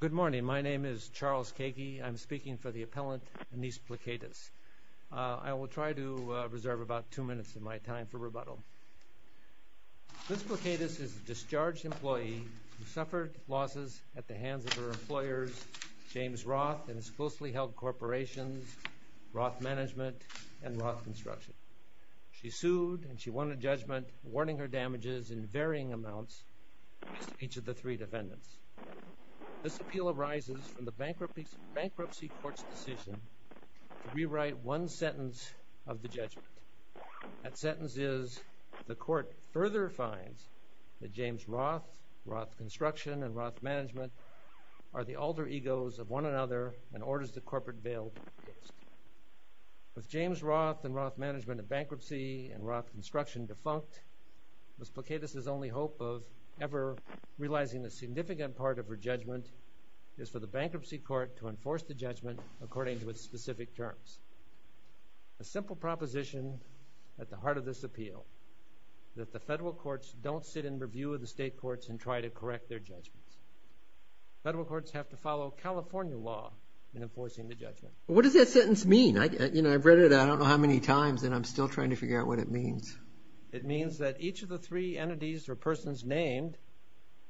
Good morning. My name is Charles Kakey. I'm speaking for the appellant, Anice Plikaytis. I will try to reserve about two minutes of my time for rebuttal. Anice Plikaytis is a discharged employee who suffered losses at the hands of her employers, James Roth, and his closely held corporations, Roth Management and Roth Construction. She sued and she won a judgment, awarding her damages in varying amounts to each of the three defendants. This appeal arises from the bankruptcy court's decision to rewrite one sentence of the judgment. That sentence is, the court further finds that James Roth, Roth Construction, and Roth Management are the alter egos of one another and orders the corporate bail to be dismissed. With James Roth and Roth Management in bankruptcy and Roth Construction defunct, Ms. Plikaytis' only hope of ever realizing the significant part of her judgment is for the bankruptcy court to enforce the judgment according to its specific terms. A simple proposition at the heart of this appeal, that the federal courts don't sit in review of the state courts and try to correct their judgments. Federal courts have to follow California law in enforcing the judgment. What does that sentence mean? I've read it, I don't know how many times, and I'm still trying to figure out what it means. It means that each of the three entities or persons named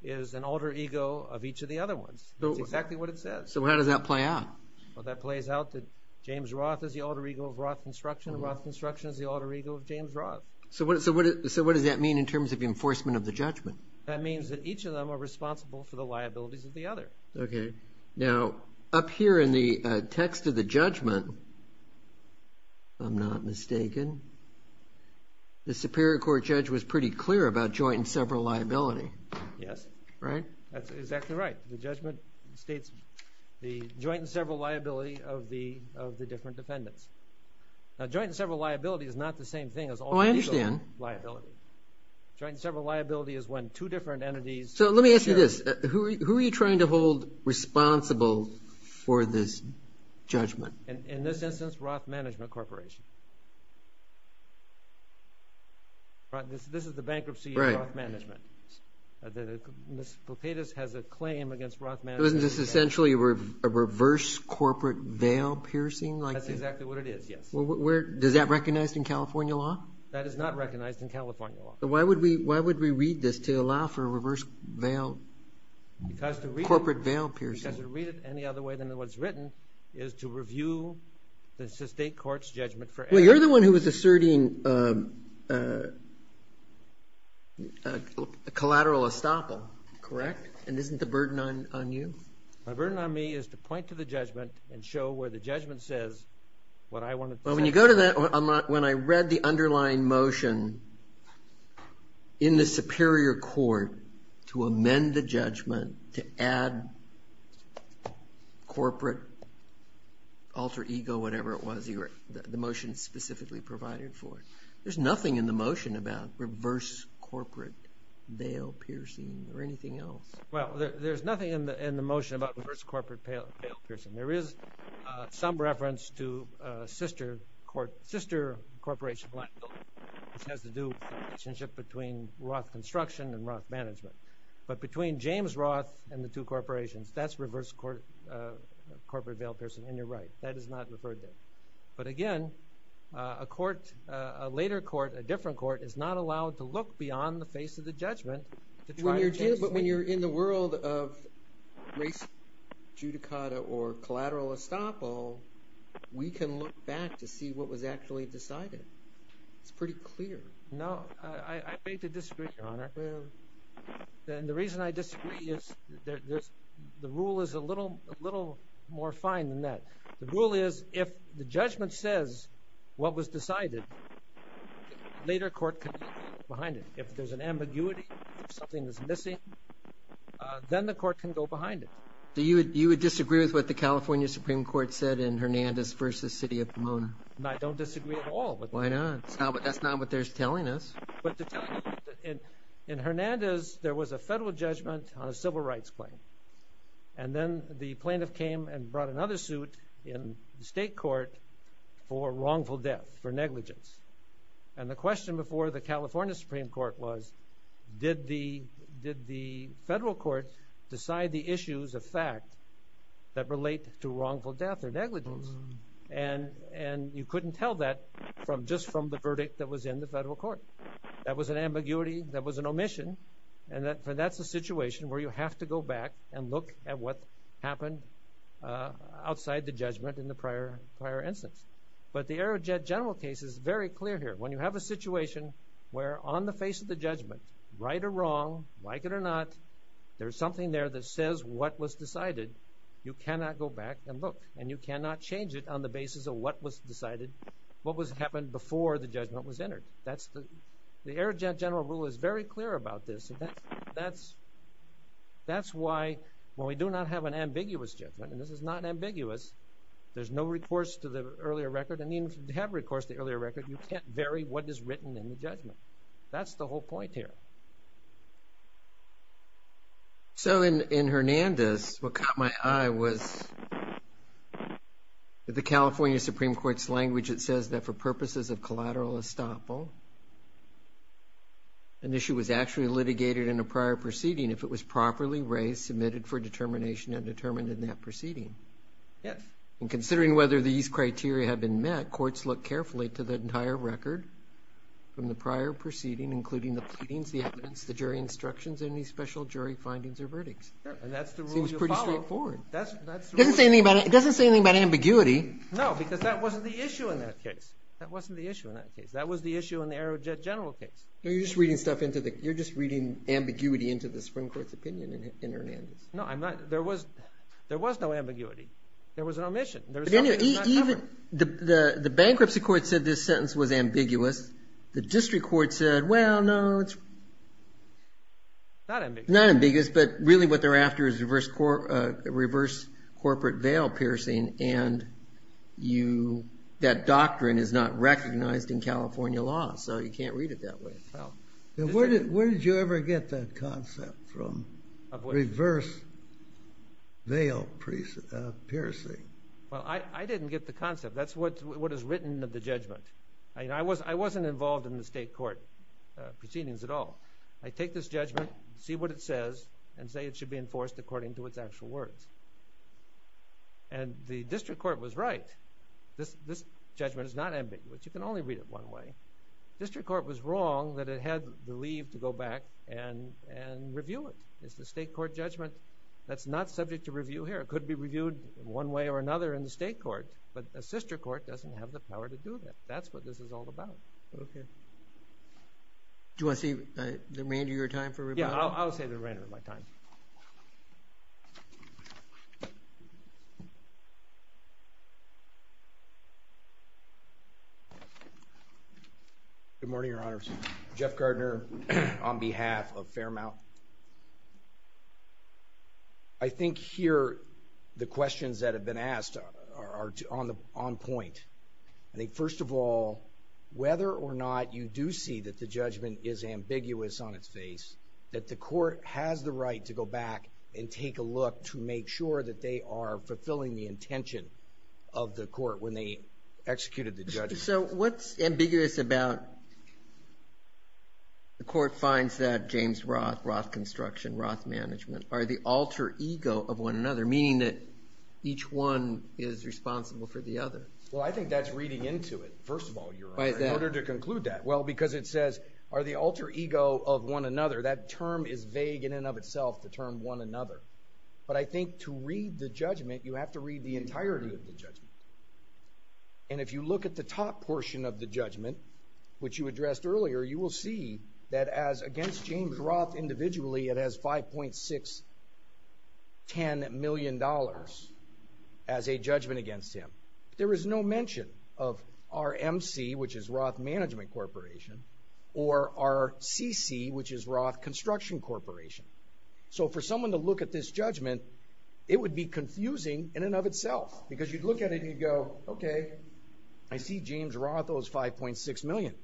is an alter ego of each of the other ones. That's exactly what it says. So how does that play out? Well, that plays out that James Roth is the alter ego of Roth Construction, and Roth Construction is the alter ego of James Roth. So what does that mean in terms of enforcement of the judgment? That means that each of them are responsible for the liabilities of the other. Okay. Now, up here in the text of the judgment, if I'm not mistaken, the Superior Court judge was pretty clear about joint and several liability. Yes. Right? That's exactly right. The judgment states the joint and several liability of the different defendants. Now, joint and several liability is not the same thing as alter ego liability. Oh, I understand. Joint and several liability is when two different entities share. So let me ask you this. Who are you trying to hold responsible for this judgment? In this instance, Roth Management Corporation. This is the bankruptcy of Roth Management. Ms. Potatus has a claim against Roth Management. Isn't this essentially a reverse corporate veil piercing? That's exactly what it is, yes. Does that recognize in California law? That is not recognized in California law. Why would we read this to allow for a reverse corporate veil piercing? Because to read it any other way than what's written is to review the state court's judgment for error. Well, you're the one who was asserting a collateral estoppel, correct? And isn't the burden on you? The burden on me is to point to the judgment and show where the judgment says what I wanted to say. Well, when you go to that, when I read the underlying motion in the superior court to amend the judgment, to add corporate alter ego, whatever it was the motion specifically provided for, there's nothing in the motion about reverse corporate veil piercing or anything else. Well, there's nothing in the motion about reverse corporate veil piercing. There is some reference to sister corporation, which has to do with the relationship between Roth Construction and Roth Management. But between James Roth and the two corporations, that's reverse corporate veil piercing, and you're right. That is not referred to. But, again, a court, a later court, a different court, is not allowed to look beyond the face of the judgment. But when you're in the world of racial judicata or collateral estoppel, we can look back to see what was actually decided. It's pretty clear. No, I beg to disagree, Your Honor. And the reason I disagree is the rule is a little more fine than that. The rule is if the judgment says what was decided, a later court can go behind it. If there's an ambiguity, if something is missing, then the court can go behind it. Do you disagree with what the California Supreme Court said in Hernandez v. City of Pomona? I don't disagree at all with that. Why not? That's not what they're telling us. In Hernandez, there was a federal judgment on a civil rights claim. And then the plaintiff came and brought another suit in the state court for wrongful death, for negligence. And the question before the California Supreme Court was, did the federal court decide the issues of fact that relate to wrongful death or negligence? And you couldn't tell that just from the verdict that was in the federal court. That was an ambiguity. That was an omission. And that's a situation where you have to go back and look at what happened outside the judgment in the prior instance. But the Aerojet General case is very clear here. When you have a situation where on the face of the judgment, right or wrong, like it or not, there's something there that says what was decided, you cannot go back and look. And you cannot change it on the basis of what was decided, what happened before the judgment was entered. The Aerojet General rule is very clear about this. That's why when we do not have an ambiguous judgment, and this is not ambiguous, there's no recourse to the earlier record. And even if you have recourse to the earlier record, you can't vary what is written in the judgment. That's the whole point here. So, in Hernandez, what caught my eye was the California Supreme Court's language. It says that for purposes of collateral estoppel, an issue was actually litigated in a prior proceeding if it was properly raised, submitted for determination, and determined in that proceeding. Yes. And considering whether these criteria have been met, courts look carefully to the entire record from the prior proceeding, including the pleadings, the evidence, the jury instructions, any special jury findings or verdicts. And that's the rule you follow. Seems pretty straightforward. That's the rule you follow. It doesn't say anything about ambiguity. No, because that wasn't the issue in that case. That wasn't the issue in that case. That was the issue in the Aerojet General case. No, you're just reading stuff into the – you're just reading ambiguity into the Supreme Court's opinion in Hernandez. No, I'm not. There was no ambiguity. There was an omission. There was something that was not covered. The bankruptcy court said this sentence was ambiguous. The district court said, well, no, it's not ambiguous, but really what they're after is reverse corporate veil piercing, and that doctrine is not recognized in California law, so you can't read it that way. Where did you ever get that concept from, reverse veil piercing? Well, I didn't get the concept. That's what is written of the judgment. I wasn't involved in the state court proceedings at all. I take this judgment, see what it says, and say it should be enforced according to its actual words. And the district court was right. This judgment is not ambiguous. You can only read it one way. The district court was wrong that it had the leave to go back and review it. It's the state court judgment that's not subject to review here. It could be reviewed one way or another in the state court, but a sister court doesn't have the power to do that. That's what this is all about. Okay. Do you want to say the remainder of your time for rebuttal? Yeah, I'll say the remainder of my time. Good morning, Your Honor. Jeff Gardner on behalf of Fairmount. I think here the questions that have been asked are on point. I think, first of all, whether or not you do see that the judgment is ambiguous on its face, that the court has the right to go back and take a look to make sure that they are fulfilling the intention of the court when they executed the judgment. So what's ambiguous about the court finds that James Roth, Roth construction, Roth management, are the alter ego of one another, meaning that each one is responsible for the other? Well, I think that's reading into it, first of all, Your Honor, in order to conclude that. Well, because it says, are the alter ego of one another. That term is vague in and of itself, the term one another. But I think to read the judgment, you have to read the entirety of the judgment. And if you look at the top portion of the judgment, which you addressed earlier, you will see that as against James Roth individually, it has $5.610 million as a judgment against him. There is no mention of RMC, which is Roth Management Corporation, or RCC, which is Roth Construction Corporation. So for someone to look at this judgment, it would be confusing in and of itself because you'd look at it and you'd go, okay, I see James Roth owes $5.6 million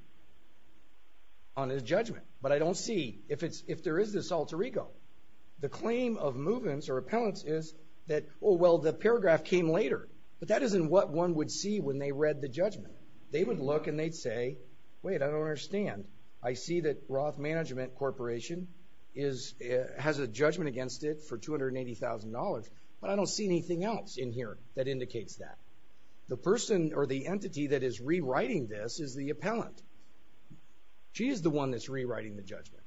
on his judgment, but I don't see if there is this alter ego. The claim of movements or appellants is that, oh, well, the paragraph came later. But that isn't what one would see when they read the judgment. They would look and they'd say, wait, I don't understand. I see that Roth Management Corporation has a judgment against it for $280,000, but I don't see anything else in here that indicates that. The person or the entity that is rewriting this is the appellant. She is the one that's rewriting the judgment.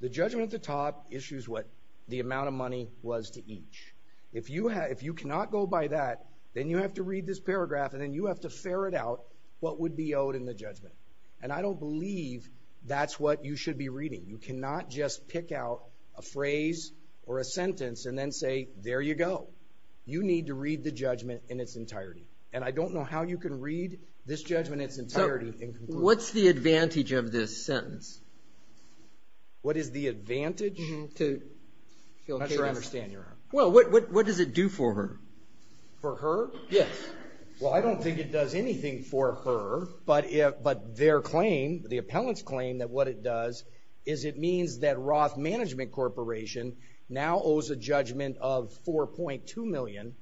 The judgment at the top issues what the amount of money was to each. If you cannot go by that, then you have to read this paragraph and then you have to ferret out what would be owed in the judgment. And I don't believe that's what you should be reading. You cannot just pick out a phrase or a sentence and then say, there you go. You need to read the judgment in its entirety. And I don't know how you can read this judgment in its entirety and conclude. What's the advantage of this sentence? What is the advantage? I'm not sure I understand your question. Well, what does it do for her? For her? Yes. Well, I don't think it does anything for her, but their claim, the appellant's claim, that what it does is it means that Roth Management Corporation now owes a judgment of $4.2 million,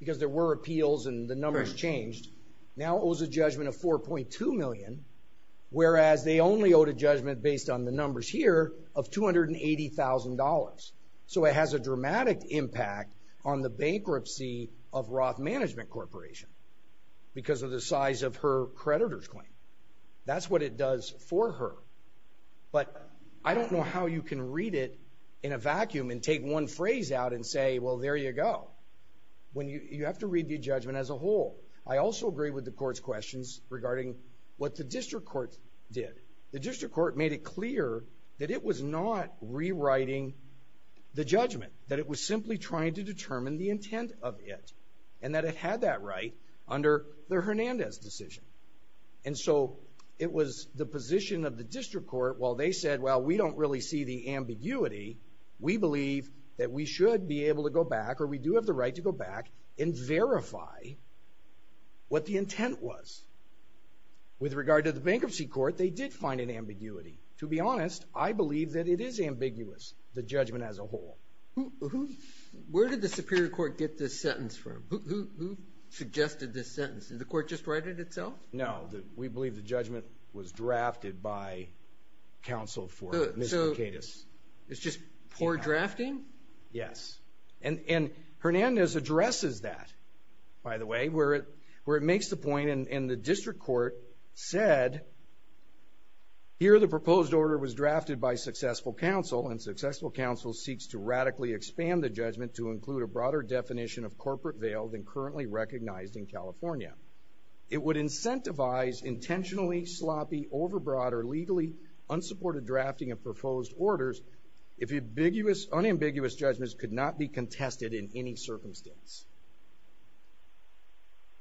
because there were appeals and the numbers changed, now owes a judgment of $4.2 million, whereas they only owed a judgment based on the numbers here of $280,000. So it has a dramatic impact on the bankruptcy of Roth Management Corporation because of the size of her creditor's claim. That's what it does for her. But I don't know how you can read it in a vacuum and take one phrase out and say, well, there you go. You have to read the judgment as a whole. I also agree with the court's questions regarding what the district court did. The district court made it clear that it was not rewriting the judgment, that it was simply trying to determine the intent of it and that it had that right under the Hernandez decision. And so it was the position of the district court, while they said, well, we don't really see the ambiguity, we believe that we should be able to go back or we do have the right to go back and verify what the intent was. With regard to the bankruptcy court, they did find an ambiguity. To be honest, I believe that it is ambiguous, the judgment as a whole. Where did the superior court get this sentence from? Who suggested this sentence? Did the court just write it itself? No. We believe the judgment was drafted by counsel for Ms. Mercatus. So it's just poor drafting? Yes. And Hernandez addresses that, by the way, where it makes the point, and the district court said, here the proposed order was drafted by successful counsel and successful counsel seeks to radically expand the judgment to include a broader definition of corporate veil than currently recognized in California. It would incentivize intentionally sloppy, overbroad, or legally unsupported drafting of proposed orders if unambiguous judgments could not be contested in any circumstance.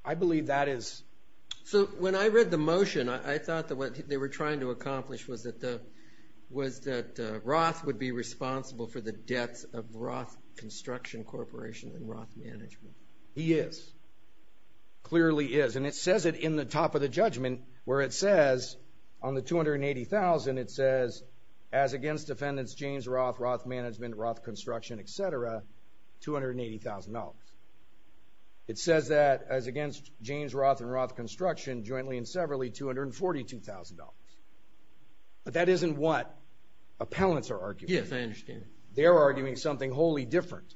I believe that is. So when I read the motion, I thought that what they were trying to accomplish was that Roth would be responsible for the debts of Roth Construction Corporation and Roth Management. He is. Clearly is. And it says it in the top of the judgment, where it says, on the $280,000, it says, as against defendants James Roth, Roth Management, Roth Construction, et cetera, $280,000. It says that as against James Roth and Roth Construction jointly and severally, $242,000. But that isn't what appellants are arguing. Yes, I understand. They're arguing something wholly different.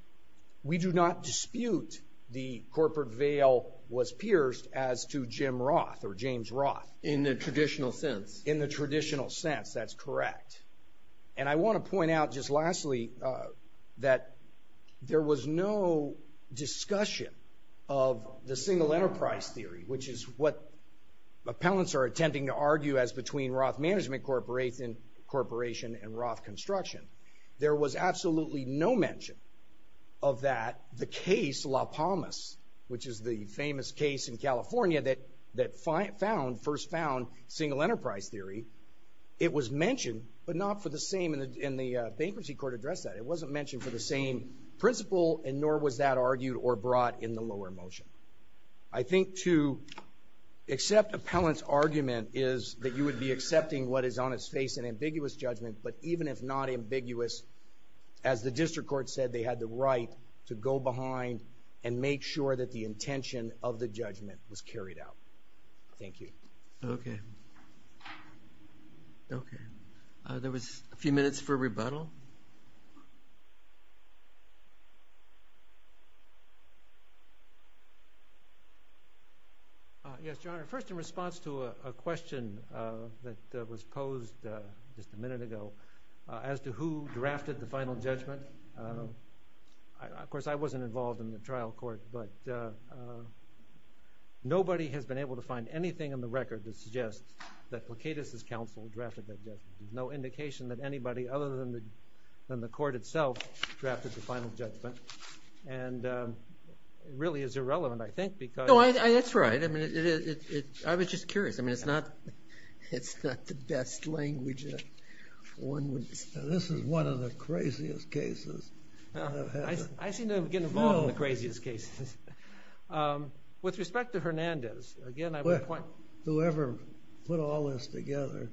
We do not dispute the corporate veil was pierced as to Jim Roth or James Roth. In the traditional sense. In the traditional sense, that's correct. And I want to point out just lastly that there was no discussion of the single enterprise theory, which is what appellants are attempting to argue as between Roth Management Corporation and Roth Construction. There was absolutely no mention of that. The case La Palmas, which is the famous case in California that first found single enterprise theory, it was mentioned, but not for the same, and the bankruptcy court addressed that. It wasn't mentioned for the same principle, and nor was that argued or brought in the lower motion. I think to accept appellant's argument is that you would be accepting what is on its face an ambiguous judgment, but even if not ambiguous, as the district court said, they had the right to go behind and make sure that the intention of the judgment was carried out. Thank you. Okay. Okay. There was a few minutes for rebuttal. Yes, Your Honor. First in response to a question that was posed just a minute ago as to who drafted the final judgment. Of course, I wasn't involved in the trial court, but nobody has been able to find anything in the record that suggests that Placidus' counsel drafted that judgment. There's no indication that anybody other than the court itself drafted the final judgment, and it really is irrelevant, I think, because No, that's right. I mean, I was just curious. I mean, it's not the best language that one would This is one of the craziest cases. I seem to get involved in the craziest cases. With respect to Hernandez, again, I would point Whoever put all this together,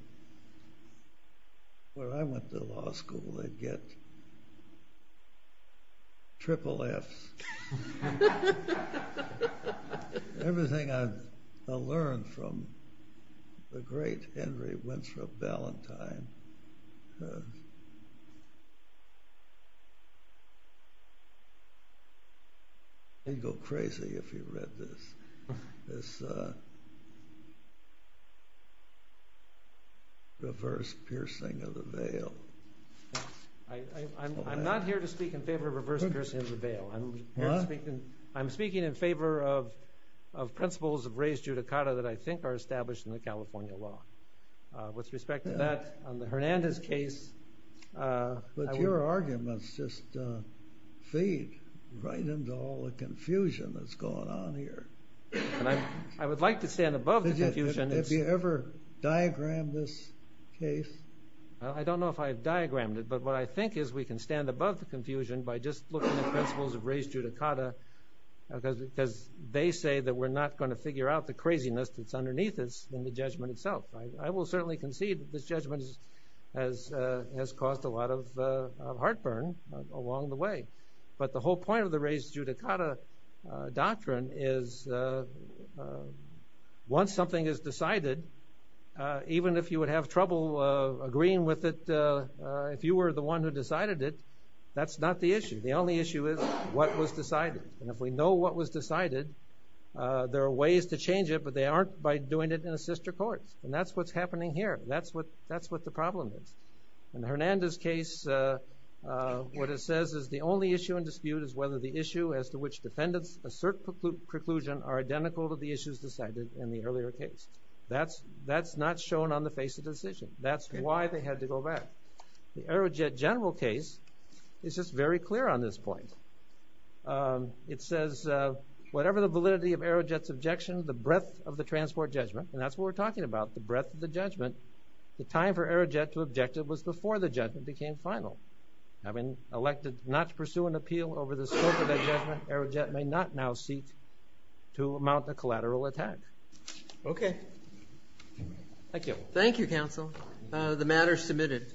when I went to law school, they'd get triple Fs. Everything I learned from the great Henry Winthrop Ballantyne He'd go crazy if he read this reverse piercing of the veil. I'm not here to speak in favor of reverse piercing of the veil. I'm speaking in favor of principles of raised judicata that I think are established in the California law. With respect to that, on the Hernandez case, But your arguments just feed right into all the confusion that's going on here. I would like to stand above the confusion. Have you ever diagrammed this case? I don't know if I've diagrammed it, but what I think is we can stand above the confusion by just looking at principles of raised judicata, because they say that we're not going to figure out the craziness that's underneath this in the judgment itself. I will certainly concede that this judgment has caused a lot of heartburn along the way. But the whole point of the raised judicata doctrine is once something is decided, even if you would have trouble agreeing with it, if you were the one who decided it, that's not the issue. The only issue is what was decided. And if we know what was decided, there are ways to change it, but they aren't by doing it in a sister court. And that's what's happening here. That's what the problem is. In the Hernandez case, what it says is the only issue in dispute is whether the issue as to which defendants assert preclusion are identical to the issues decided in the earlier case. That's not shown on the face of the decision. That's why they had to go back. The Arrowjet general case is just very clear on this point. It says, whatever the validity of Arrowjet's objection, the breadth of the transport judgment, and that's what we're talking about, the breadth of the judgment, the time for Arrowjet to object was before the judgment became final. Having elected not to pursue an appeal over the scope of that judgment, Arrowjet may not now seek to mount a collateral attack. Okay. Thank you. Thank you, counsel. The matter is submitted.